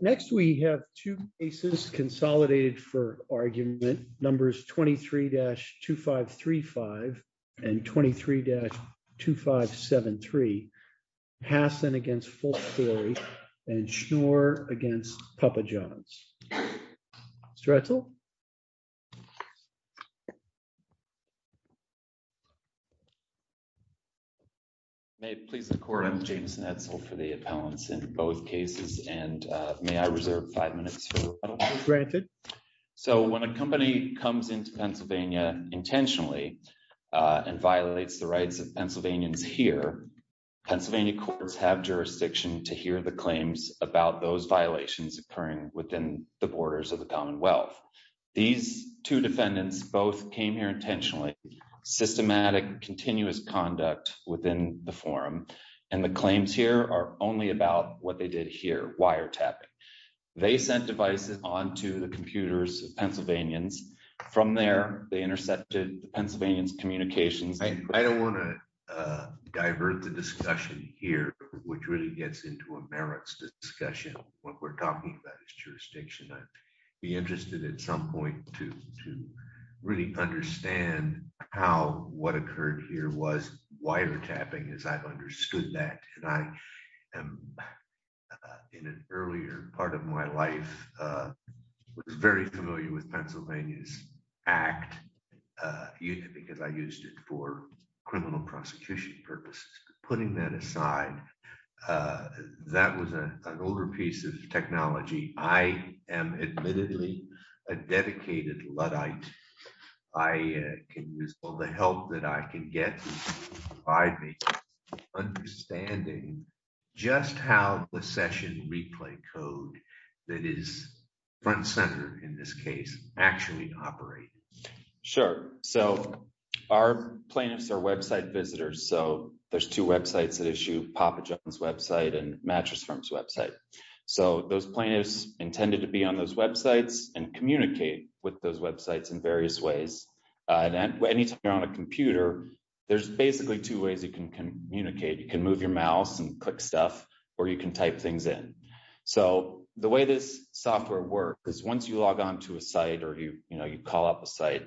Next we have two cases consolidated for argument. Numbers 23-2535 and 23-2573, Hasson against Fullstory and Schnur against Papa Johns. Stretzel? James Schnetzel May it please the court, I'm James Schnetzel for the appellants in both cases and may I reserve five minutes for the rebuttal? James Schnetzel Granted. James Schnetzel So when a company comes into Pennsylvania intentionally and violates the rights of Pennsylvanians here, Pennsylvania courts have jurisdiction to hear the claims about those violations occurring within the borders of the these two defendants both came here intentionally, systematic continuous conduct within the forum and the claims here are only about what they did here, wiretapping. They sent devices onto the computers of Pennsylvanians. From there, they intercepted the Pennsylvanians' communications. James Schnetzel I don't want to divert the discussion here, which really gets into a merits discussion. What we're talking about is jurisdiction. I'd interested at some point to really understand how what occurred here was wiretapping as I've understood that and I am in an earlier part of my life was very familiar with Pennsylvania's act because I used it for criminal prosecution purposes. Putting that aside, that was an older piece of technology. I am admittedly a dedicated Luddite. I can use all the help that I can get by understanding just how the session replay code that is front and center, in this case, Travis Thurston Sure. So our plaintiffs are website visitors. So there's two websites that issue, Papa John's website and Mattress Firm's website. So those plaintiffs intended to be on those websites and communicate with those websites in various ways. Anytime you're on a computer, there's basically two ways you can communicate. You can move your mouse and click stuff or you can type things in. So the way this software works is once you log on to a site or you call up a site,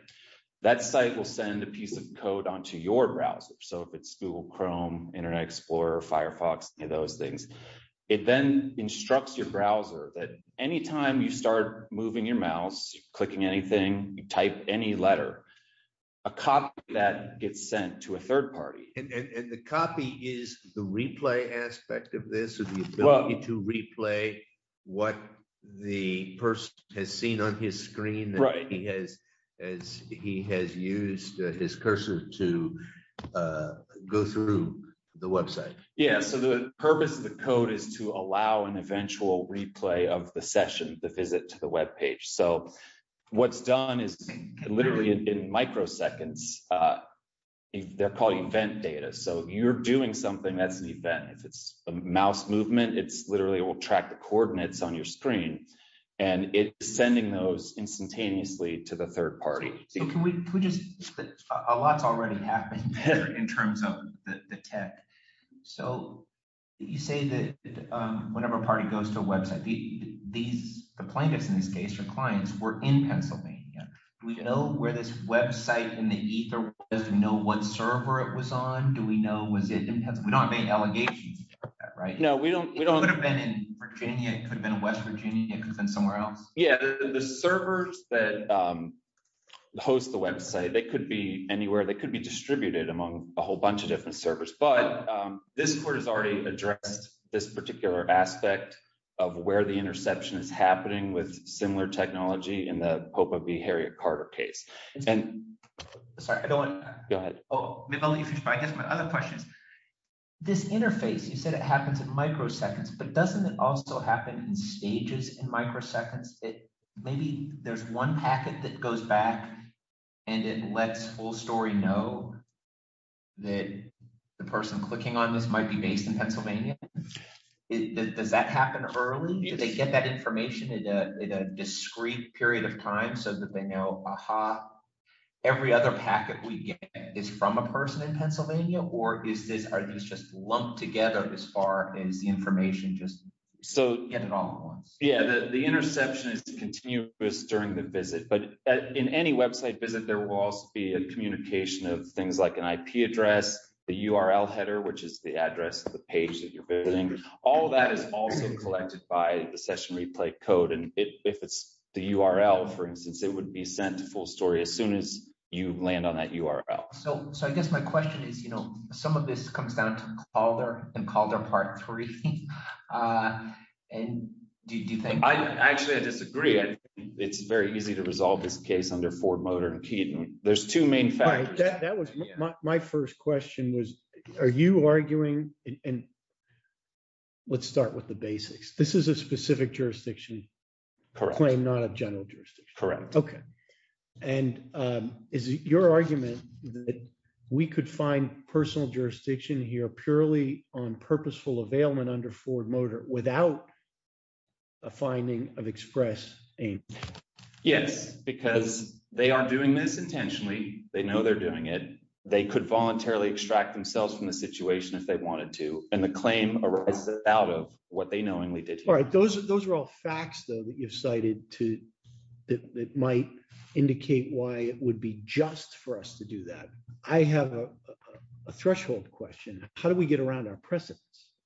that site will send a piece of code onto your browser. So if it's Google Chrome, Internet Explorer, Firefox, any of those things, it then instructs your browser that anytime you start moving your mouse, clicking anything, you type any letter, a copy of that gets sent to a third party. Travis Thurston And the copy is the replay aspect of this or the ability to replay what the person has seen on his screen as he has used his cursor to go through the website. Matt Thurston Yeah. So the purpose of the code is to allow an eventual replay of the session, the visit to the web page. So what's done is literally in microseconds, they're called event data. So you're doing something that's an event. If it's a mouse movement, it's literally it will track the coordinates on your screen and it's sending those instantaneously to the third party. Travis Thurston So can we just, a lot's already happening there in terms of the tech. So you say that whenever a party goes to a website, the plaintiffs in this case, your clients were in Pennsylvania. Do we know where this website in the ether was? Do we know what server it was on? Do we know was it in Pennsylvania? We don't have any allegations of that, right? Matt Thurston It could have been in Virginia, it could have been in West Virginia, it could have been somewhere else. Travis Thurston Yeah. The servers that host the website, they could be anywhere. They could be distributed among a whole bunch of different servers. But this court has already addressed this particular aspect of where the interception is happening with similar technology in the Popa v. Harriet Carter case. And- Matt Thurston Sorry, I don't want- Travis Thurston Go ahead. Matt Thurston Oh, I guess my other question is, this interface, you said it happens in microseconds, but doesn't it also happen in stages in microseconds? Maybe there's one packet that goes back and it lets full story know that the person clicking on this might be based in Pennsylvania. Does that happen early? Do they get that information in a discrete period of time so that they know, aha, every other packet we get is from a person in Pennsylvania? Or are these just lumped together as far as the information, just get it all at once? Travis Thurston Yeah, the interception is continuous during the visit. But in any website visit, there will also be a communication of things like an IP address, the URL header, which is the address of the page that you're building. All of that is also collected by the session replay code. And if it's the URL, for instance, it would be sent to full story as soon as you land on that URL. Matt Thurston So I guess my question is, you know, some of this comes down to Calder and Calder part three. And do you think- Travis Thurston Actually, I disagree. It's very easy to resolve this case under Ford, Motor and Keaton. There's two main factors. Michael Svoboda That was my first question was, are you arguing and let's start with the basics. This is a specific Travis Thurston Correct. Michael Svoboda And is it your argument that we could find personal jurisdiction here purely on purposeful availment under Ford Motor without a finding of express aim? Travis Thurston Yes, because they are doing this intentionally. They know they're doing it. They could voluntarily extract themselves from the situation if they wanted to. And the claim arises out of what they knowingly did. Michael Svoboda Those are all facts, though, that you've cited that might indicate why it would be just for us to do that. I have a threshold question. How do we get around our precedents?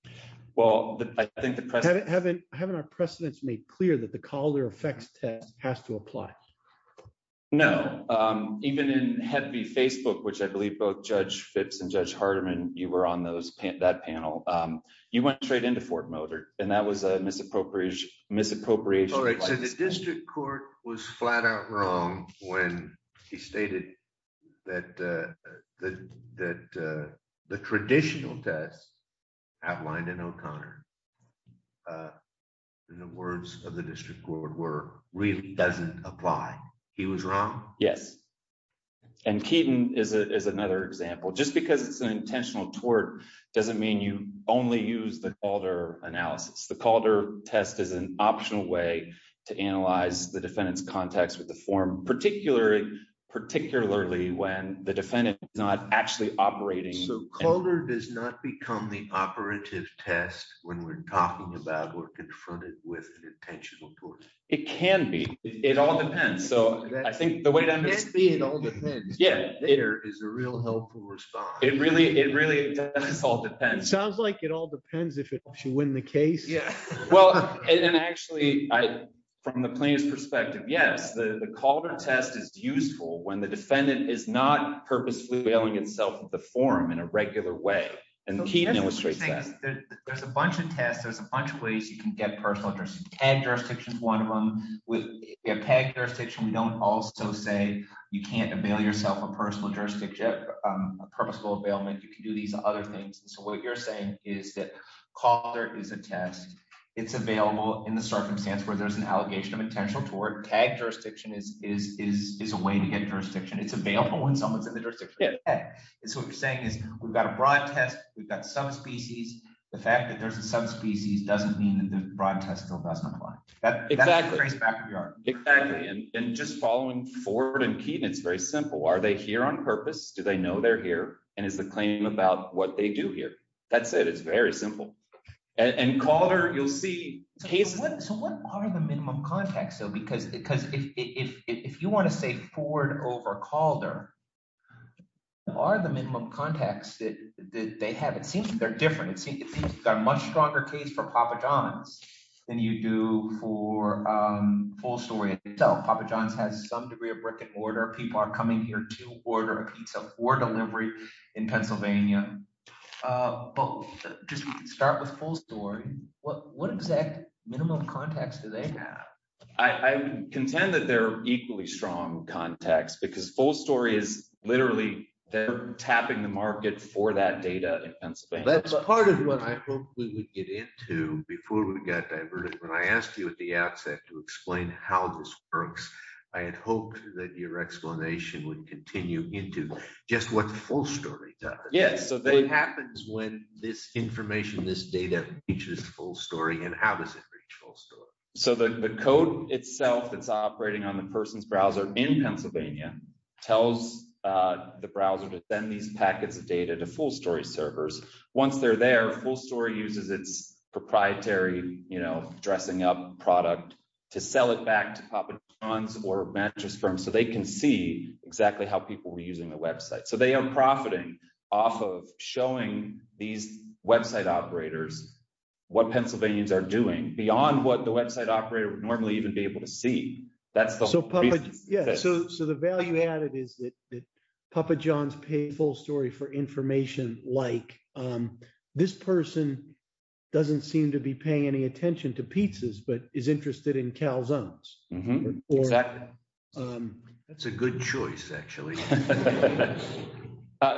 Travis Thurston Well, I think the- Michael Svoboda Haven't our precedents made clear that the Calder effects test has to apply? Travis Thurston No, even in Hedby Facebook, which I believe both Judge Phipps and Judge Hardiman, you were on that panel, you went straight into Ford Motor, and that was a misappropriation. Michael Svoboda All right, so the district court was flat out wrong when he stated that the traditional test outlined in O'Connor, in the words of the district court, really doesn't apply. He was wrong? Travis Thurston Yes. And Keaton is another example. Just because it's an intentional tort doesn't mean you only use the Calder analysis. The Calder test is an optional way to analyze the defendant's context with the form, particularly when the defendant is not actually operating- Michael Svoboda So Calder does not become the operative test when we're talking about or confronted with an intentional tort? Travis Thurston It can be. It all depends. So I think the way- It can be, it all depends. Travis Thurston Yeah. Michael Svoboda There is a real helpful response. Travis Thurston It really does all depend. Michael Svoboda Sounds like it all depends if it should win the case. Travis Thurston Well, and actually, from the plaintiff's perspective, yes, the Calder test is useful when the defendant is not purposefully veiling itself with the form in a regular way. And Keaton illustrates that. Michael Svoboda There's a bunch of tests. There's a bunch of ways you can get personal jurisdiction. Tagged jurisdiction is one of them. With a tagged jurisdiction, we don't also say you can't avail yourself a personal jurisdiction, a purposeful availment. You can do these other things. So what you're saying is that Calder is a test. It's available in the circumstance where there's an allegation of intentional tort. Tagged jurisdiction is a way to get jurisdiction. It's available when someone's in the jurisdiction. Travis Thurston Michael Svoboda The fact that there's a subspecies doesn't mean that the broad test still doesn't apply. Travis Thurston Exactly. Michael Svoboda Exactly. And just following Ford and Keaton, it's very simple. Are they here on purpose? Do they know they're here? And is the claim about what they do here? That said, it's very simple. And Calder, you'll see cases... Travis Thurston So what are the minimum contacts though? Because if you want to say Ford over Calder, what are the minimum contacts that they have? It seems they're different. It seems it's a much stronger case for Papa John's than you do for Full Story itself. Papa John's has some degree of brick and mortar. People are coming here to order a pizza for delivery in Pennsylvania. But just start with Full Story. What exact minimum contacts do they have? Michael Svoboda They're equally strong contacts because Full Story is literally they're tapping the market for that data in Pennsylvania. Travis Thurston That's part of what I hope we would get into before we got diverted. When I asked you at the outset to explain how this works, I had hoped that your explanation would continue into just what Full Story does. What happens when this information, this data reaches Full Story, and how does it reach Full Story? So the code itself that's operating on the person's browser in Pennsylvania tells the browser to send these packets of data to Full Story servers. Once they're there, Full Story uses its proprietary dressing up product to sell it back to Papa John's or mattress firms so they can see exactly how people were using the website. So they are profiting off of showing these website operators what Pennsylvanians are doing beyond what the website operator would normally even be able to see. That's the- Michael Svoboda Yeah, so the value added is that Papa John's pays Full Story for information like, this person doesn't seem to be paying any attention to pizzas, but is interested in calzones. Travis Thurston Exactly. That's a good choice, actually. Michael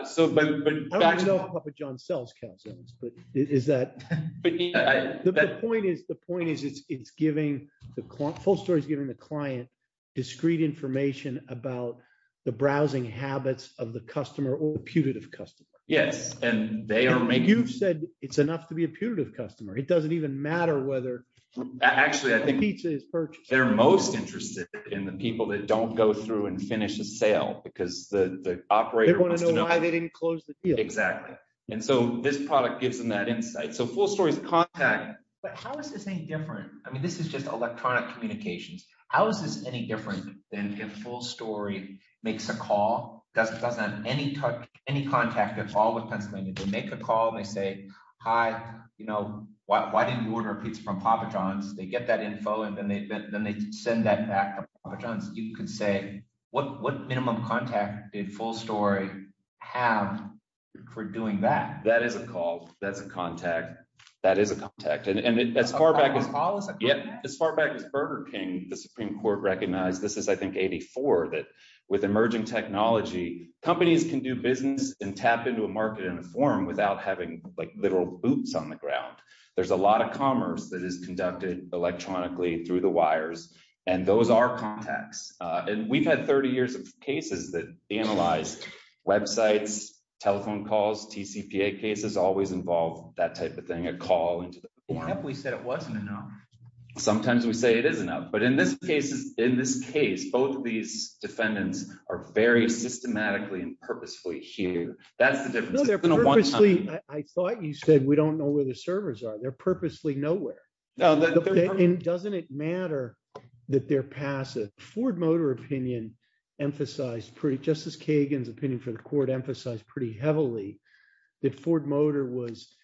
Svoboda So but- Travis Thurston I don't know if Papa John's sells calzones, but is that- Michael Svoboda The point is, the point is, it's giving the client, Full Story is giving the client discrete information about the browsing habits of the customer or putative customer. Michael Svoboda Yes, and they are making- Travis Thurston You've said it's enough to be a putative customer. It doesn't even matter whether- Michael Svoboda Actually, I think- Travis Thurston The pizza is purchased- Michael Svoboda They're most interested in the people that don't go through and finish a sale because the operator- Michael Svoboda Exactly. And so this product gives them that insight. So Full Story's contact- Travis Thurston But how is this any different? I mean, this is just electronic communications. How is this any different than if Full Story makes a call, doesn't have any contact at all with Pennsylvania? They make a call and they say, hi, you know, why didn't you order a pizza from Papa John's? They get that info and then they send that back to Papa John's. You could say, what minimum contact did Full Story have for doing that? Michael Svoboda That is a call. That's a contact. That is a contact. And as far back as- Travis Thurston A call is a contact? Michael Svoboda As far back as Burger King, the Supreme Court recognized, this is, I think, 84, that with emerging technology, companies can do business and tap into a market in a form without having literal boots on the ground. There's a lot of commerce that is conducted electronically through the wires. And those are contacts. And we've had 30 years of cases that analyze websites, telephone calls, TCPA cases always involve that type of thing, a call into the- Travis Thurston What if we said it wasn't enough? Michael Svoboda Sometimes we say it is enough. But in this case, both of these defendants are very systematically and purposefully here. That's the difference. Travis Thurston I thought you said we don't know where the servers are. They're purposely nowhere. Michael Svoboda And doesn't it matter that they're passive? Ford Motor opinion emphasized pretty- Justice Kagan's opinion for the court emphasized pretty heavily that Ford Motor was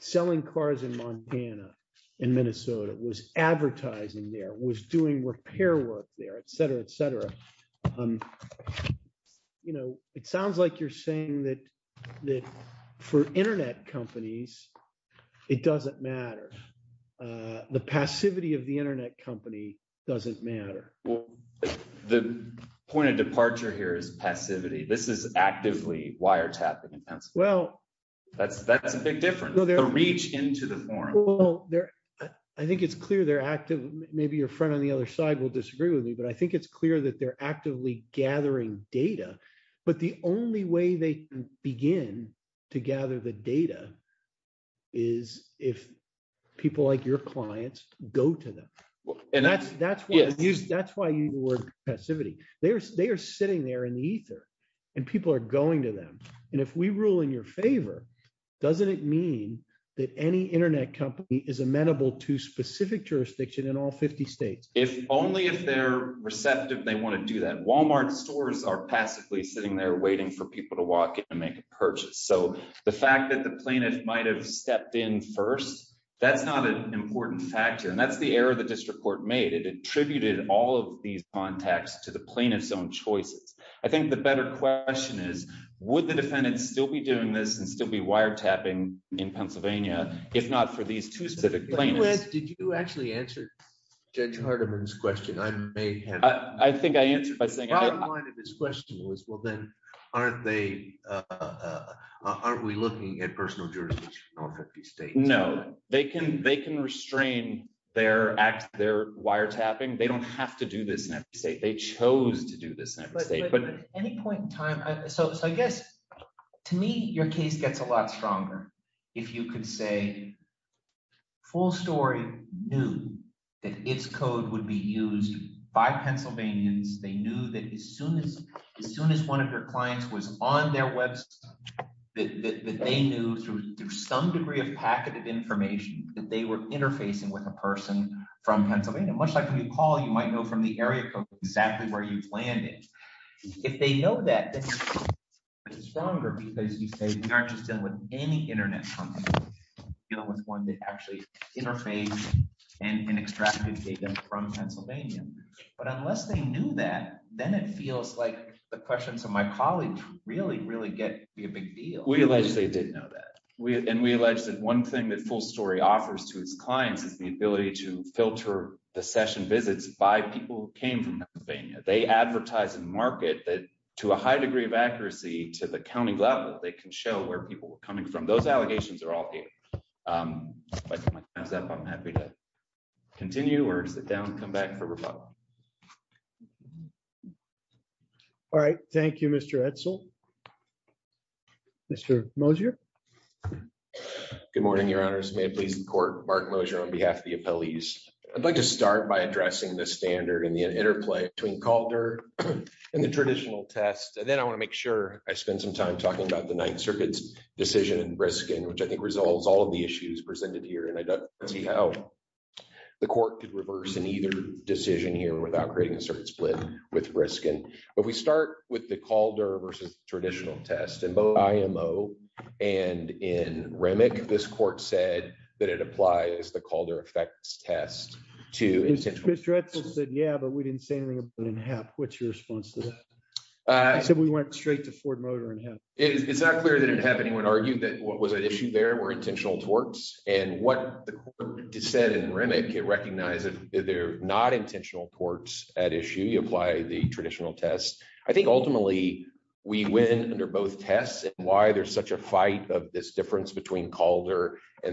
selling cars in Montana, in Minnesota, was advertising there, was doing repair work there, et cetera, et cetera. You know, it sounds like you're saying that for internet companies, it doesn't matter. The passivity of the internet company doesn't matter. Travis Thurston The point of departure here is passivity. This is actively wiretapping in Pennsylvania. Michael Svoboda Well- Travis Thurston That's a big difference, the reach into the forum. Michael Svoboda I think it's clear they're active. Maybe your friend on the other side will disagree with me, but I think it's clear that they're actively gathering data. But the only way they begin to gather the data is if people like your clients go to them. That's why you use the word passivity. They are sitting there in the ether and people are going to them. And if we rule in your favor, doesn't it mean that any internet company is amenable to specific jurisdiction in all 50 states? Travis Thurston Only if they're receptive, they want to do that. Walmart stores are passively sitting there waiting for people to walk in and make a purchase. So the fact that the plaintiff might have stepped in first, that's not an important factor. And that's the error the district court made. It attributed all of these contacts to the plaintiff's own choices. I think the better question is, would the defendant still be doing this and still be wiretapping in Pennsylvania, if not for these two specific plaintiffs? Michael Svoboda Did you actually answer Judge Hardiman's question? I may have- Travis Thurston I think I answered by saying- Michael Svoboda My line of this question was, well, then, aren't we looking at personal jurisdiction in all 50 states? Travis Thurston No, they can restrain their wiretapping. They don't have to do this in every state. They chose to do this in every state. Michael Svoboda At any point in time, so I guess, to me, your case gets a lot stronger. If you could say, Full Story knew that its code would be used by Pennsylvanians. They knew that as soon as one of their clients was on their website, that they knew through some degree of packeted information that they were interfacing with a person from Pennsylvania. Much like when you call, you might know from the area code exactly where you've landed. If they know that, it's stronger because you say, we aren't just dealing with any internet company. We're dealing with one that actually interfaced and extracted data from Pennsylvania. But unless they knew that, then it feels like the questions from my colleagues really, really get to be a big deal. Travis Thurston We allege they didn't know that. And we allege that one thing that Full Story offers to its clients is the ability to filter the session visits by people who came from Pennsylvania. They advertise and market that to a high degree of accuracy to the county level, they can show where people were coming from. Those allegations are all here. But with my time's up, I'm happy to continue or sit down and come back for rebuttal. Mark Mosier All right. Thank you, Mr. Edsel. Mr. Mosier. Mark Mosier Good morning, your honors. May it please the court, Mark Mosier on behalf of the appellees. I'd like to start by addressing the standard and the interplay between CalDER and the traditional test. And then I want to make sure I spend some time talking about the Ninth Circuit's decision in Briskin, which I think resolves all of the issues presented here. And I'd like to see how the court could reverse in either decision here without creating a certain split with Briskin. But we start with the CalDER versus traditional test. In both IMO and in REMIC, this court said that it applies the CalDER effects test to... Mark Mosier Mr. Edsel said, yeah, but we didn't say anything about it in HEP. What's your response to that? I said we went straight to Ford Motor and HEP. Mark Mosier It's not clear that it had anyone argue that what was at issue there were intentional torts. And what the court said in REMIC, it recognized that they're not intentional torts at issue. You apply the traditional test. I think ultimately, we win under both tests and why there's such a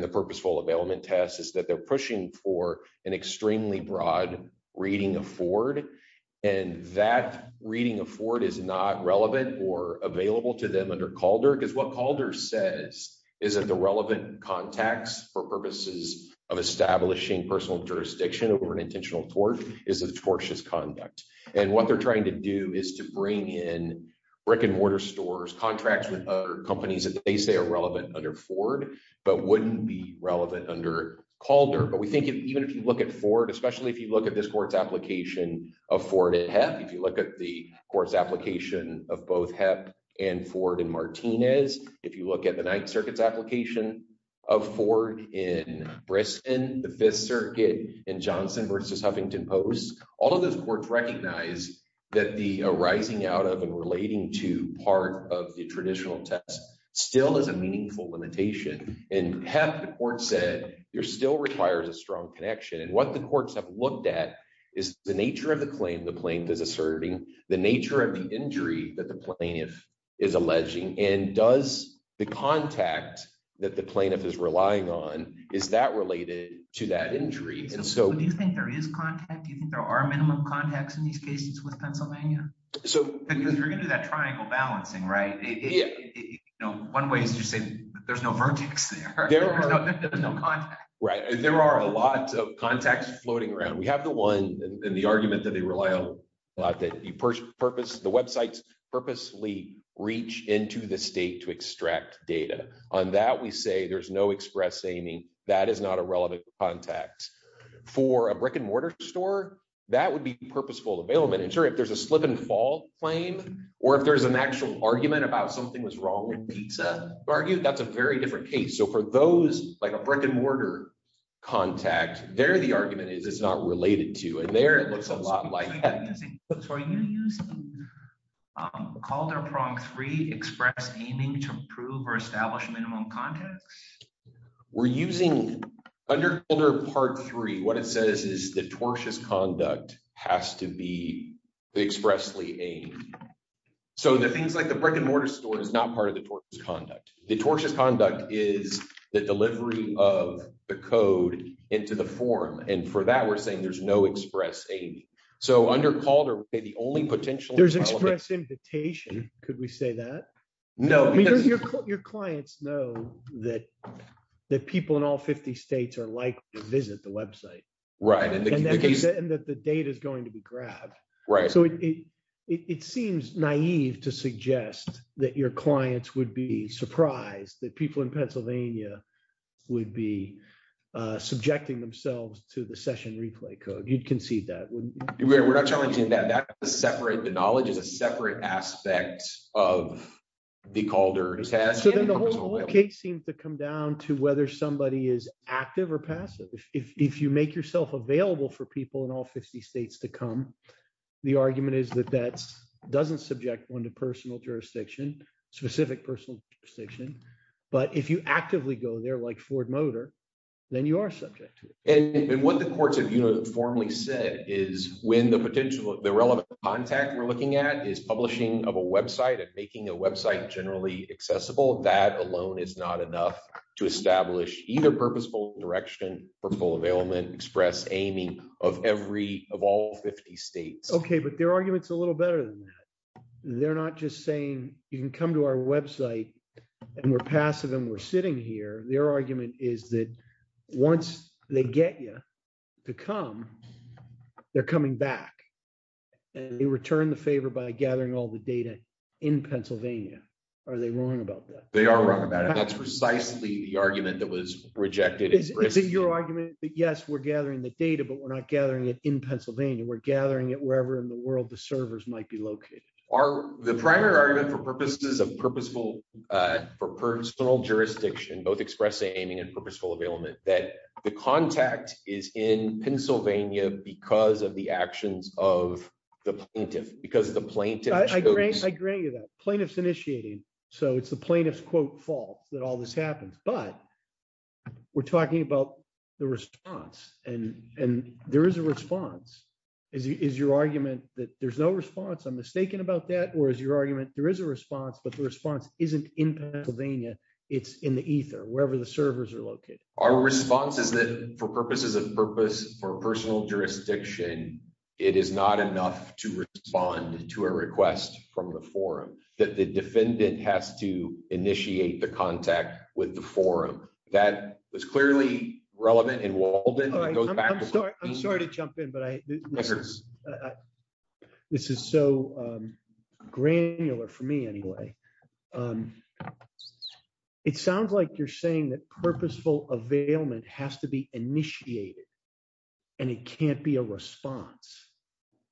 focusable availment test is that they're pushing for an extremely broad reading of Ford. And that reading of Ford is not relevant or available to them under CalDER. Because what CalDER says is that the relevant contacts for purposes of establishing personal jurisdiction over an intentional tort is a tortious conduct. And what they're trying to do is to bring in brick and mortar stores, contracts with other companies that they say are relevant under Ford, but wouldn't be under CalDER. But we think even if you look at Ford, especially if you look at this court's application of Ford at HEP, if you look at the court's application of both HEP and Ford in Martinez, if you look at the Ninth Circuit's application of Ford in Brisbane, the Fifth Circuit in Johnson v. Huffington Post, all of those courts recognize that the arising out of and relating to part of the traditional test still is a meaningful limitation. And HEP, the court still requires a strong connection. And what the courts have looked at is the nature of the claim the plaintiff is asserting, the nature of the injury that the plaintiff is alleging, and does the contact that the plaintiff is relying on, is that related to that injury? So do you think there is contact? Do you think there are minimum contacts in these cases with Pennsylvania? Because you're going to do that triangle balancing, right? One way is to say there's no vertex there. There's no contact. Right. There are a lot of contacts floating around. We have the one in the argument that they rely on a lot that the websites purposely reach into the state to extract data. On that, we say there's no express aiming. That is not a relevant contact. For a brick-and-mortar store, that would be purposeful availment. And sure, if there's a slip-and-fall claim or if there's an very different case. So for those, like a brick-and-mortar contact, there the argument is it's not related to. And there it looks a lot like that. So are you using Calder Prompt 3 express aiming to prove or establish minimum contacts? We're using, under Calder Part 3, what it says is the tortious conduct has to be expressly aimed. So the things like the brick-and-mortar store is not part of the tortious conduct. The tortious conduct is the delivery of the code into the form. And for that, we're saying there's no express aiming. So under Calder, the only potential. There's express invitation. Could we say that? No. I mean, your clients know that people in all 50 states are likely to visit the website. Right. And that the data is going to be grabbed. Right. It seems naive to suggest that your clients would be surprised that people in Pennsylvania would be subjecting themselves to the session replay code. You'd concede that, wouldn't you? We're not challenging that. The knowledge is a separate aspect of the Calder test. So then the whole case seems to come down to whether somebody is active or passive. If you make yourself available for people in all 50 states to come, the argument is that that doesn't subject one to personal jurisdiction, specific personal jurisdiction. But if you actively go there like Ford Motor, then you are subject to it. And what the courts have uniformly said is when the potential, the relevant contact we're looking at is publishing of a website and making a website generally accessible, that alone is not enough to establish either purposeful direction for full available, express aiming of every, of all 50 states. Okay. But their argument's a little better than that. They're not just saying you can come to our website and we're passive and we're sitting here. Their argument is that once they get you to come, they're coming back and they return the favor by gathering all the data in Pennsylvania. Are they wrong about that? They are wrong about it. That's precisely the argument that was rejected. Is it your argument that yes, we're gathering the data, but we're not gathering it in Pennsylvania. We're gathering it wherever in the world the servers might be located. Are the primary argument for purposes of purposeful, for personal jurisdiction, both express aiming and purposeful available, that the contact is in Pennsylvania because of the actions of the plaintiff, because the plaintiff- I grant you that. Plaintiff's initiating. So it's the plaintiff's quote fault that all this happens. But we're talking about the response and there is a response. Is your argument that there's no response? I'm mistaken about that. Or is your argument there is a response, but the response isn't in Pennsylvania. It's in the ether, wherever the servers are located. Our response is that for purposes of purpose, for personal jurisdiction, it is not enough to respond to a request from the forum. That the defendant has to That was clearly relevant in Walden. All right. I'm sorry to jump in, but this is so granular for me anyway. It sounds like you're saying that purposeful availment has to be initiated. And it can't be a response.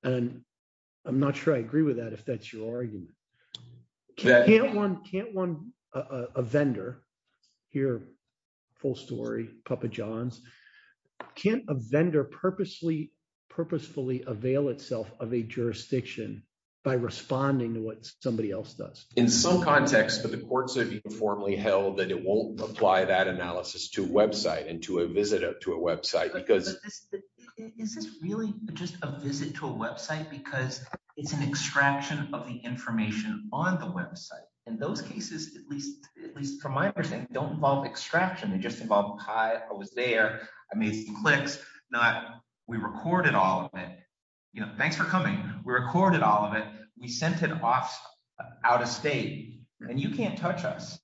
And I'm not sure I agree with that, if that's your argument. Can't one- can't one- a vendor- here, full story, Papa John's- can't a vendor purposefully purposefully avail itself of a jurisdiction by responding to what somebody else does? In some context, but the courts have informally held that it won't apply that analysis to website and to a visitor to a website because- Is this really just a visit to a website because it's an extraction of the information on the website? In those cases, at least, at least from my understanding, don't involve extraction. They just involve, Hi, I was there. I made some clicks. Not, we recorded all of it. You know, thanks for coming. We recorded all of it. We sent it off, out of state. And you can't touch us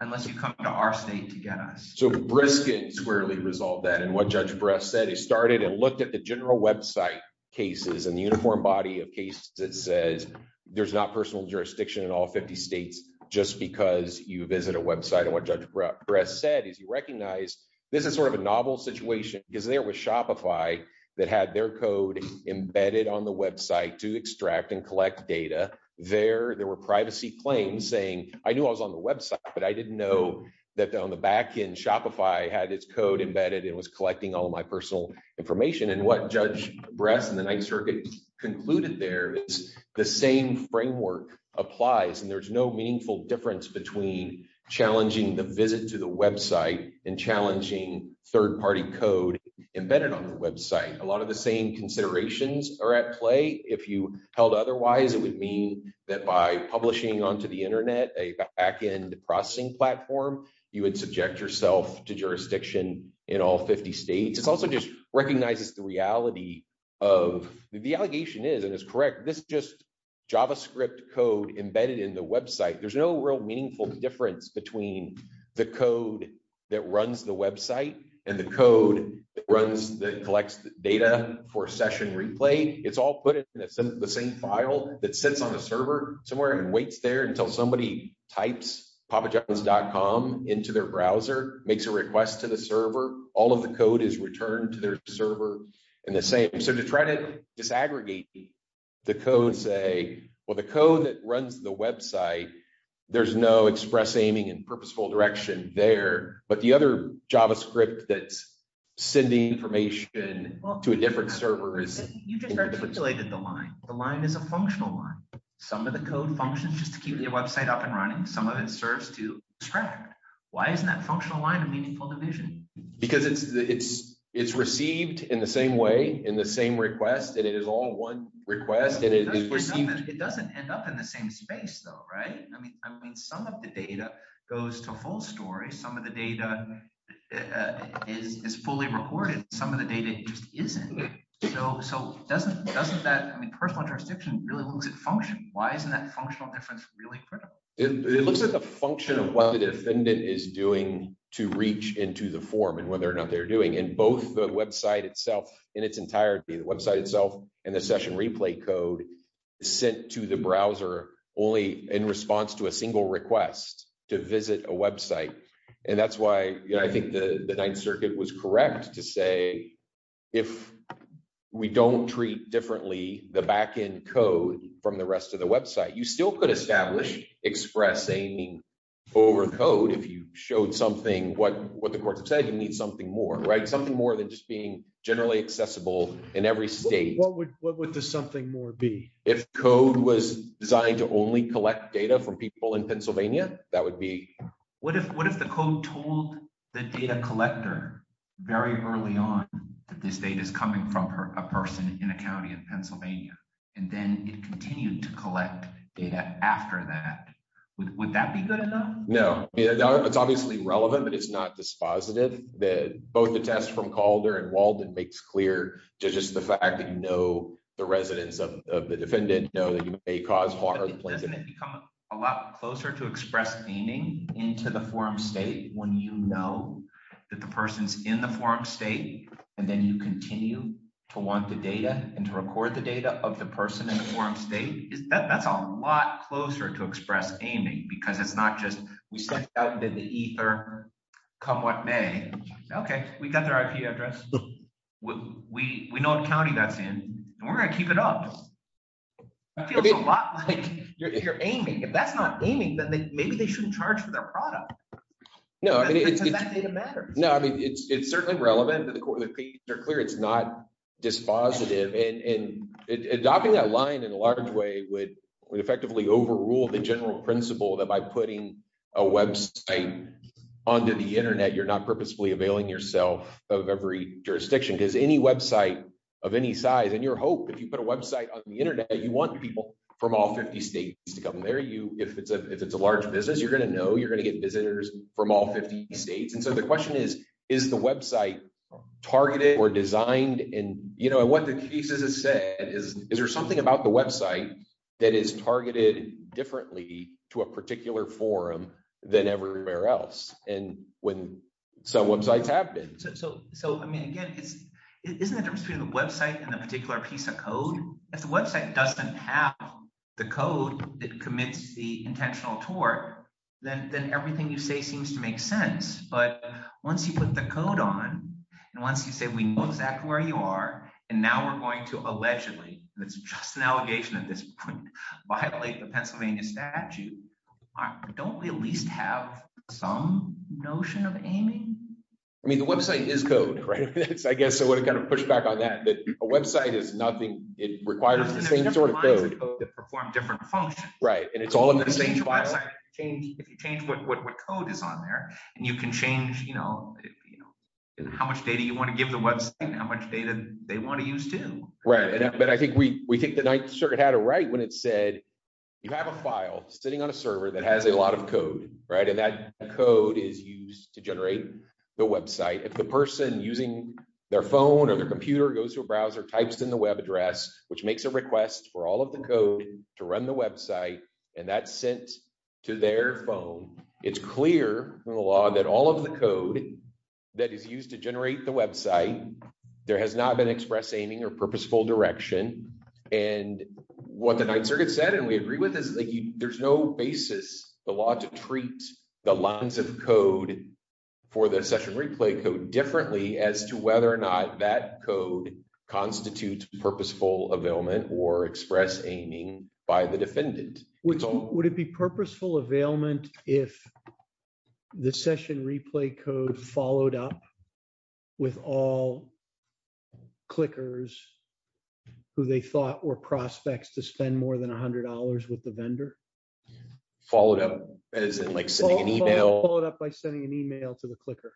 unless you come to our state to get us. So Brisket squarely resolved that. And what Judge Bress said, he started and looked at the website cases and the uniform body of cases that says there's not personal jurisdiction in all 50 states just because you visit a website. And what Judge Bress said is you recognize this is sort of a novel situation because there was Shopify that had their code embedded on the website to extract and collect data there. There were privacy claims saying, I knew I was on the website, but I didn't know that on the back end, Shopify had its code embedded. It was collecting all my information and what Judge Bress and the ninth circuit concluded there is the same framework applies and there's no meaningful difference between challenging the visit to the website and challenging third party code embedded on the website. A lot of the same considerations are at play. If you held otherwise, it would mean that by publishing onto the internet, a backend processing platform, you would subject yourself to jurisdiction in all 50 states. It's also just recognizes the reality of the allegation is, and it's correct. This just JavaScript code embedded in the website. There's no real meaningful difference between the code that runs the website and the code that runs, that collects the data for session replay. It's all put in the same file that sits on the server somewhere and waits there until somebody types, Papa juggles.com into their browser, makes a request to the server. All of the code is returned to their server and the same. So to try to disaggregate the code say, well, the code that runs the website, there's no express aiming and purposeful direction there, but the other JavaScript that's sending information to a different server is you just articulated the line. The line is a functional one. Some of the code functions just to keep your website up and running. Some of it serves to distract. Why isn't that functional line of meaningful division? Because it's received in the same way, in the same request, and it is all one request. It doesn't end up in the same space though, right? I mean, some of the data goes to full story. Some of the data is fully recorded. Some of the data just isn't. So doesn't that, I mean, personal transcription really looks at function. Why isn't that functional difference really critical? It looks at the function of what the defendant is doing to reach into the form and whether or not they're doing. And both the website itself in its entirety, the website itself and the session replay code sent to the browser only in response to a single request to visit a website. And that's why I think the Ninth Circuit was correct to say, if we don't treat differently the backend code from the rest of the website, you still could establish express aiming over code. If you showed something, what the courts have said, you need something more, right? Something more than just generally accessible in every state. What would the something more be? If code was designed to only collect data from people in Pennsylvania, that would be... What if the code told the data collector very early on that this data is coming from a person in a county in Pennsylvania, and then it continued to collect data after that, would that be good enough? No, it's obviously relevant, but it's not dispositive that both the test from Calder and Walden makes clear to just the fact that, you know, the residents of the defendant know that you may cause harm. But doesn't it become a lot closer to express aiming into the forum state when you know that the person's in the forum state, and then you continue to want the data and to record the data of the person in the forum state? That's a lot closer to express aiming because it's not just, we sent out into the ether, come what may. Okay, we got their IP address. We know the county that's in, and we're going to keep it up. That feels a lot like you're aiming. If that's not aiming, then maybe they shouldn't charge for their product because that data matters. No, I mean, it's certainly relevant to the court. The cases are clear. It's not dispositive. And adopting that line in a large way would effectively overrule the general principle that by putting a website onto the internet, you're not purposefully availing yourself of every jurisdiction. Because any website of any size, and your hope, if you put a website on the internet, you want people from all 50 states to come there. If it's a large business, you're going to know, you're going to get visitors from all 50 states. And so the question is, is the website targeted or designed? And what the cases have said is, is there something about the website that is than everywhere else? And when some websites have been... So, I mean, again, it isn't a difference between the website and the particular piece of code. If the website doesn't have the code that commits the intentional tort, then everything you say seems to make sense. But once you put the code on, and once you say, we know exactly where you are, and now we're going to allegedly, and it's just an allegation at this point, violate the some notion of aiming. I mean, the website is code, right? I guess I would have kind of pushed back on that, that a website is nothing. It requires the same sort of code that perform different functions. Right. And it's all in the same file. If you change what code is on there, and you can change, you know, how much data you want to give the website, how much data they want to use too. Right. But I think we think the Ninth Circuit had it right when it said, you have a file sitting on a server that has a lot of code, right? And that code is used to generate the website. If the person using their phone or their computer goes to a browser, types in the web address, which makes a request for all of the code to run the website, and that's sent to their phone, it's clear from the law that all of the code that is used to generate the website, there has not been express aiming or purposeful direction. And what the Ninth Circuit said, and we agree with this, there's no basis, the law to treat the lines of code for the session replay code differently as to whether or not that code constitutes purposeful availment or express aiming by the defendant. Would it be purposeful availment if the session replay code followed up with all clickers who they thought were prospects to spend more than $100 with the vendor? Followed up as in like sending an email? Followed up by sending an email to the clicker.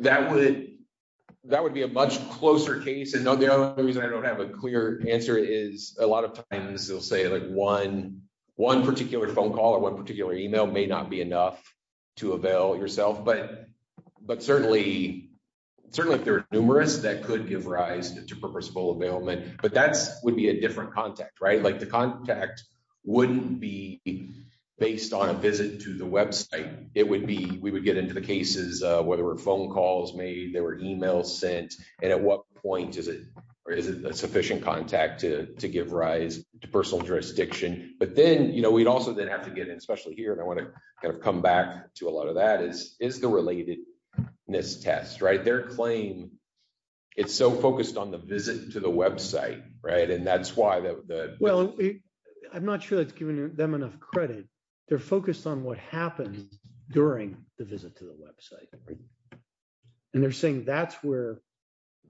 That would, that would be a much closer case. And the reason I don't have a clear answer is a lot of times they'll say like one, one particular phone call or one particular email may not be enough to avail yourself, but, but certainly, certainly if there are numerous that could give rise to purposeful availment, but that's would be a different contact, right? Like the contact wouldn't be based on a visit to the website. It would be, we would get into the cases where there were phone calls made, there were emails sent. And at what point is it, or is it a sufficient contact to, to give rise to personal jurisdiction? But then, you know, we'd also then have to get in, especially here, and I want to kind of come back to a lot of that is, is the relatedness test, right? Their claim, it's so focused on the visit to the website, right? And that's why the- Well, I'm not sure that's giving them enough credit. They're focused on what happened during the visit to the website. And they're saying that's where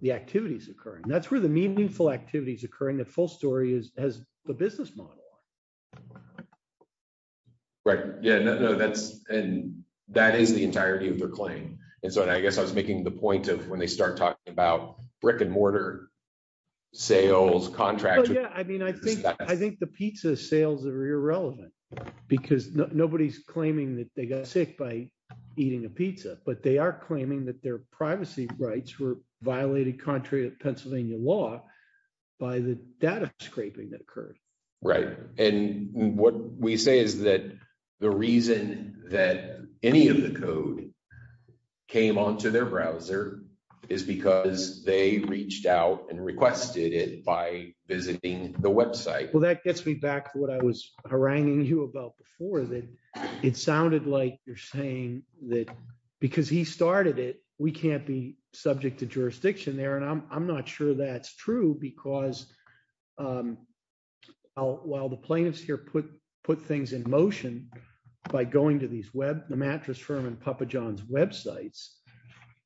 the activity is occurring. That's where the meaningful activity is occurring. The full story is, has the business model on it. Right. Yeah, no, no, that's, and that is the entirety of their claim. And so, and I guess I was making the point of when they start talking about brick and mortar sales, contracts. Yeah. I mean, I think, I think the pizza sales are irrelevant because nobody's claiming that they got sick by eating a pizza, but they are claiming that their privacy rights were violated contrary to Pennsylvania law by the data scraping that occurred. Right. And what we say is that the reason that any of the code came onto their browser is because they reached out and requested it by visiting the website. Well, that gets me back to what I was haranguing you about before, that it sounded like you're saying that because he started it, we can't be subject to jurisdiction there. And I'm not sure that's true because while the plaintiffs here put, put things in motion by going to these web, the mattress firm and Papa John's websites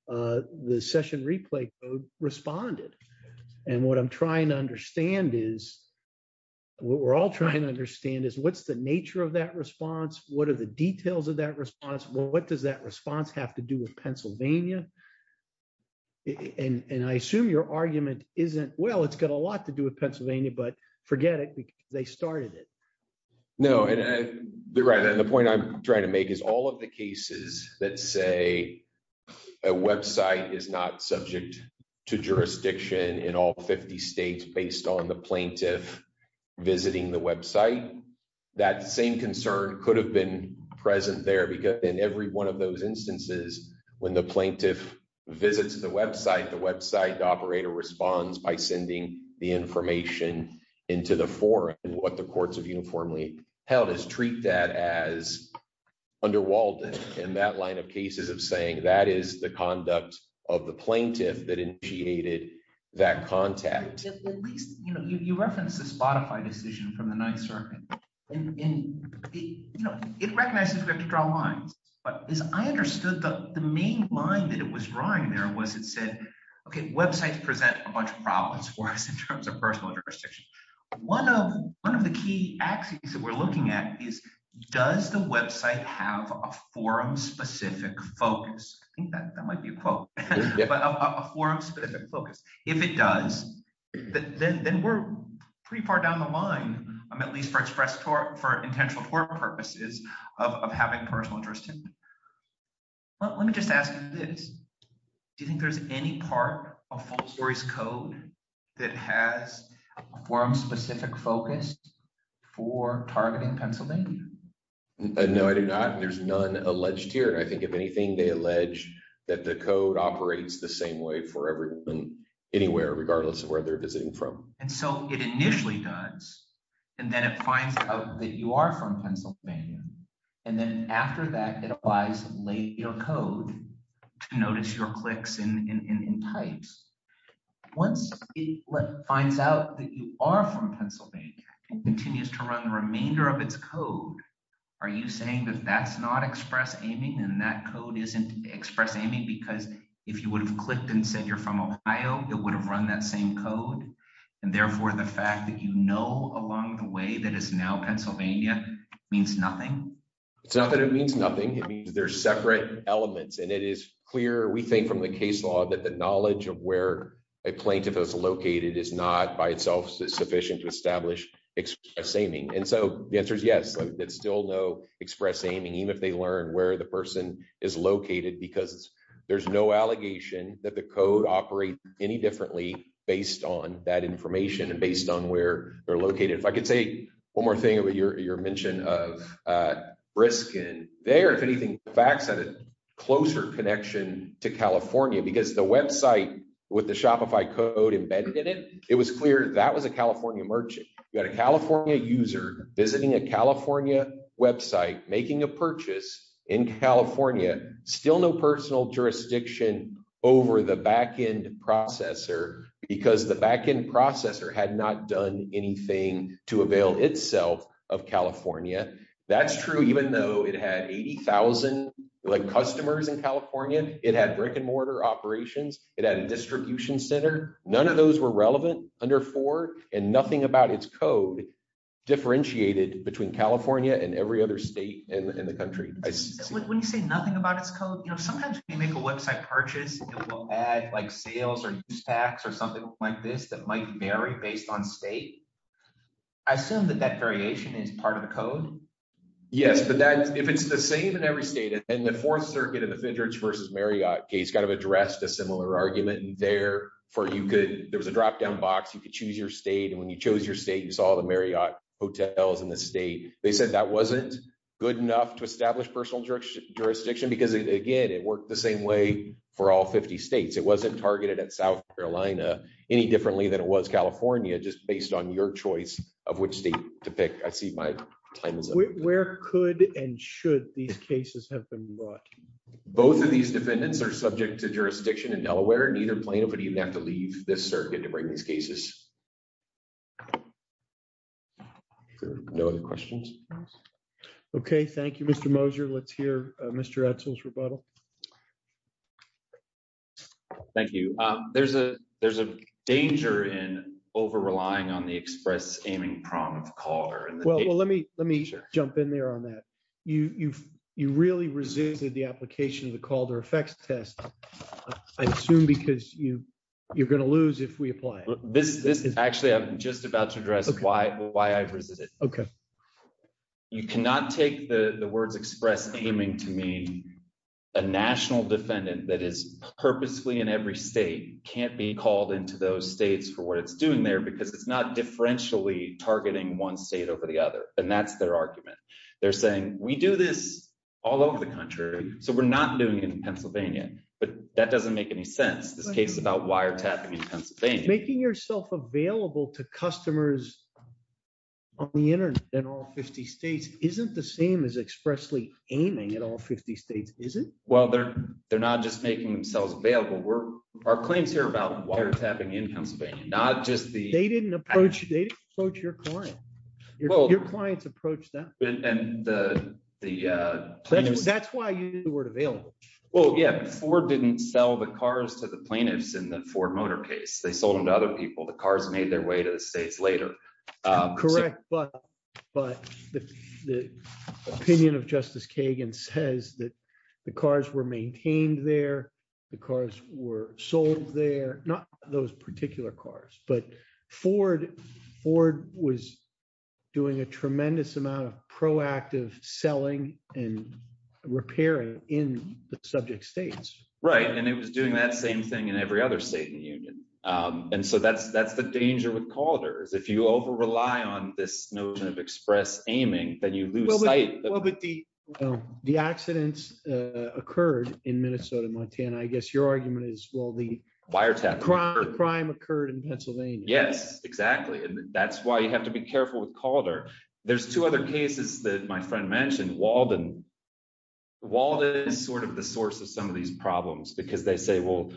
the session replay code responded. And what I'm trying to understand is what we're all trying to understand is what's the nature of that response. What are the details of that response? Well, what does that response have to do with Pennsylvania? And, and I assume your argument isn't, well, it's got a lot to do with Pennsylvania, but forget it because they started it. No. And the, right. And the point I'm trying to make is all of the cases that say a website is not subject to jurisdiction in all 50 States, based on the in every one of those instances, when the plaintiff visits the website, the website operator responds by sending the information into the forum. And what the courts have uniformly held is treat that as under Walden in that line of cases of saying that is the conduct of the plaintiff that initiated that contact. At least, you know, you referenced the Spotify decision from the ninth circuit and it recognizes we have to draw lines, but as I understood the main line that it was drawing there was it said, okay, websites present a bunch of problems for us in terms of personal jurisdiction. One of the key axes that we're looking at is does the website have a forum specific focus? I think that that might be a quote, but a forum specific focus, if it does, then, then we're pretty far down the line. I'm at least for express for, for intentional purposes of having personal interest. Let me just ask you this. Do you think there's any part of false stories code that has a forum specific focus for targeting Pennsylvania? No, I do not. And there's none alleged here. I think if anything, they allege that the code operates the same way for everyone anywhere, regardless of where they're visiting from. And so it initially does, and then it finds out that you are from Pennsylvania. And then after that, it applies your code to notice your clicks in, in, in, in types. Once it finds out that you are from Pennsylvania and continues to run the remainder of its code, are you saying that that's not express aiming and that code isn't express aiming? Because if you would have clicked and said, you're from Ohio, it would have run that same code. And therefore the fact that you know, along the way that is now Pennsylvania means nothing. It's not that it means nothing. It means there's separate elements and it is clear. We think from the case law that the knowledge of where a plaintiff is located is not by itself sufficient to establish express aiming. And so the answer is yes, that's still no express aiming, even if they learn where the person is located, because there's no allegation that the code operate any differently based on that information and based on where they're located. If I could say one more thing about your, your mention of a risk in there, if anything, facts had a closer connection to California because the website with the Shopify code embedded in it, it was clear that was a merchant. You had a California user visiting a California website, making a purchase in California, still no personal jurisdiction over the backend processor because the backend processor had not done anything to avail itself of California. That's true. Even though it had 80,000 like customers in California, it had brick and mortar operations. It had a distribution center. None of those were relevant under four and nothing about its code differentiated between California and every other state in the country. When you say nothing about its code, you know, sometimes we make a website purchase and we'll add like sales or stacks or something like this, that might vary based on state. I assume that that variation is part of the code. Yes, but that if it's the same in every state and the fourth circuit of the fidgets versus Marriott kind of addressed a similar argument there for you could, there was a drop down box. You could choose your state. And when you chose your state, you saw the Marriott hotels in the state. They said that wasn't good enough to establish personal jurisdiction because again, it worked the same way for all 50 states. It wasn't targeted at South Carolina any differently than it was California, just based on your choice of which state to pick. I see my time is up. Where could, and should these cases have been brought? Both of these defendants are subject to jurisdiction in Delaware and either plaintiff would even have to leave this circuit to bring these cases. No other questions. Okay. Thank you, Mr. Moser. Let's hear Mr. Edsel's rebuttal. Thank you. There's a, there's a danger in over-relying on the express aiming prom of Well, let me, let me jump in there on that. You, you've, you really resisted the application of the Calder effects test. I assume because you, you're going to lose if we apply it. This, this is actually, I'm just about to address why, why I've resisted. Okay. You cannot take the words express aiming to mean a national defendant that is purposely in every state can't be called into those states for what it's doing there because it's not differentially targeting one state over the other. And that's their argument. They're saying we do this all over the country. So we're not doing it in Pennsylvania, but that doesn't make any sense. This case about wiretapping Pennsylvania, making yourself available to customers on the internet and all 50 States. Isn't the same as expressly aiming at all 50 States. Is it? Well, they're, they're not just making themselves available. We're our claims here about wiretapping in Pennsylvania, not just the, they didn't approach your client. Well, your clients approach that. And the, the, that's why you weren't available. Well, yeah. Ford didn't sell the cars to the plaintiffs in the Ford motor case. They sold them to other people. The cars made their way to the States later. Correct. But, but the, the opinion of justice Kagan says that the cars were maintained there. The cars were sold there, not those particular cars, but Ford Ford was doing a tremendous amount of proactive selling and repairing in the subject States. Right. And it was doing that same thing in every other state in the union. And so that's, that's the danger with quarters. If you over-rely on this notion of express aiming, then you lose sight. Well, but the, well, the accidents occurred in Minnesota, Montana, I guess your argument is, well, the wiretapping crime occurred in Pennsylvania. Yes, exactly. And that's why you have to be careful with Calder. There's two other cases that my friend mentioned Walden. Walden is sort of the source of some of these problems because they say, well,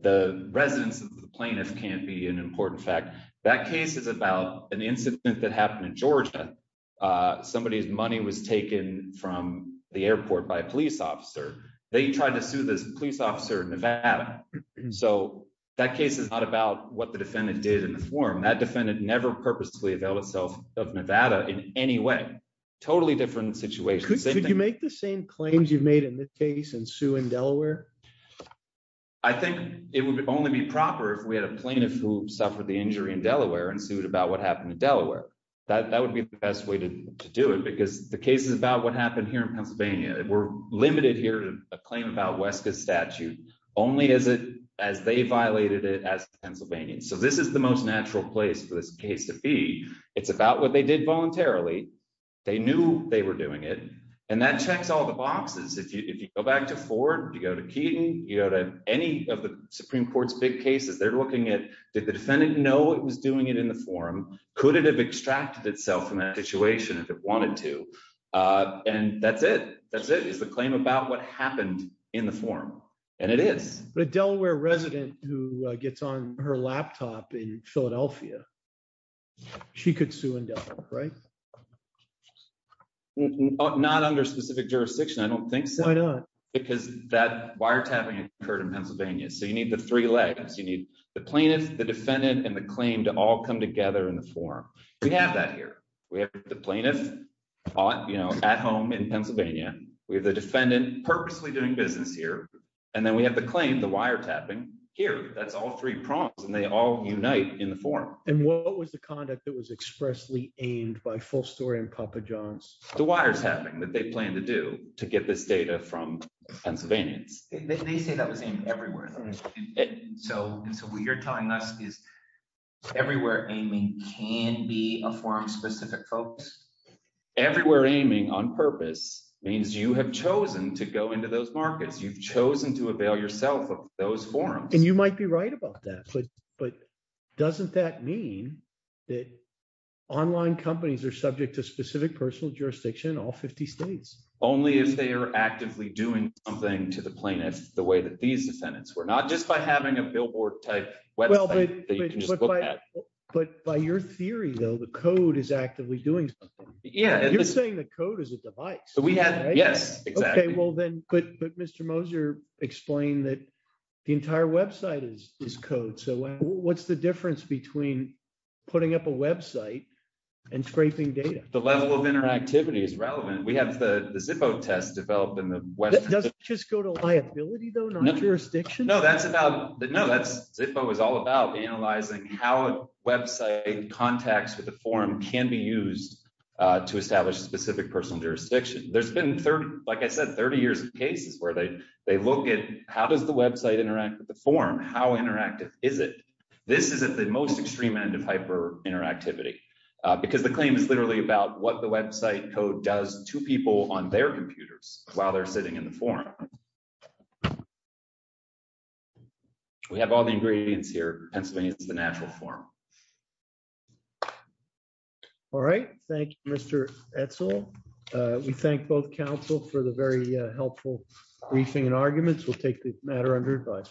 the residents of the plaintiff can't be an important fact. That case is about an incident that happened in Georgia. Somebody's money was taken from the airport by a police officer. They tried to sue this police officer in Nevada. So that case is not about what the defendant did in the form that defendant never purposely availed itself of Nevada in any way, totally different situations. Could you make the same claims you've made in this case and sue in Delaware? I think it would only be proper if we had a plaintiff who suffered the injury in Delaware and sued about what happened in Delaware. That, that would be the best way to do it because the cases about what happened here in Pennsylvania, we're limited here to a claim about Weska statute only as it, as they violated it as Pennsylvania. So this is the most natural place for this case to be. It's about what they did voluntarily. They knew they were doing it. And that checks all the boxes. If you, if you go back to Ford, you go to Keaton, you go to any of the Supreme Court's big cases, they're looking at, did the defendant know it was doing it in the form? Could it have extracted itself from that situation if it wanted to? And that's it. That's it is the claim about what happened in the form. And it is. But a Delaware resident who gets on her laptop in Philadelphia, she could sue in Delaware, right? Not under specific jurisdiction. I don't think so. Because that wiretapping occurred in Pennsylvania. So you need the three legs, you need the plaintiff, the defendant, and the claim to all come together in the form. We have that here. We have the plaintiff, you know, at home in Pennsylvania. We have the defendant purposely doing business here. And then we have the claim, the wiretapping here. That's all three prompts and they all unite in the form. And what was the conduct that was expressly aimed by Full Story and Papa John's? The wiretapping that they plan to do to get this data from Pennsylvanians. They say that was aimed everywhere. So what you're telling us is everywhere aiming can be a form specific folks? Everywhere aiming on purpose means you have chosen to go into those markets. You've chosen to avail yourself of those forms. And you might be right about that. But doesn't that mean that online companies are subject to specific personal jurisdiction in all 50 states? Only if they are actively doing something to the plaintiff the way that these defendants were. Not just by having a billboard type website that you can just look at. But by your theory though, the code is actively doing something. You're saying the code is a device. Yes, exactly. But Mr. Moser explained that the entire website is code. So what's the difference between putting up a website and scraping data? The level of interactivity is relevant. We have the Zippo test developed in the West. Does it just go to liability though, not jurisdiction? No, Zippo is all about analyzing how website contacts with the jurisdiction. There's been, like I said, 30 years of cases where they look at how does the website interact with the form? How interactive is it? This is at the most extreme end of hyper interactivity because the claim is literally about what the website code does to people on their computers while they're sitting in the forum. We have all the ingredients here. Pennsylvania is the natural form. All right. Thank you, Mr. Edsel. We thank both counsel for the very helpful briefing and arguments. We'll take the matter under advice.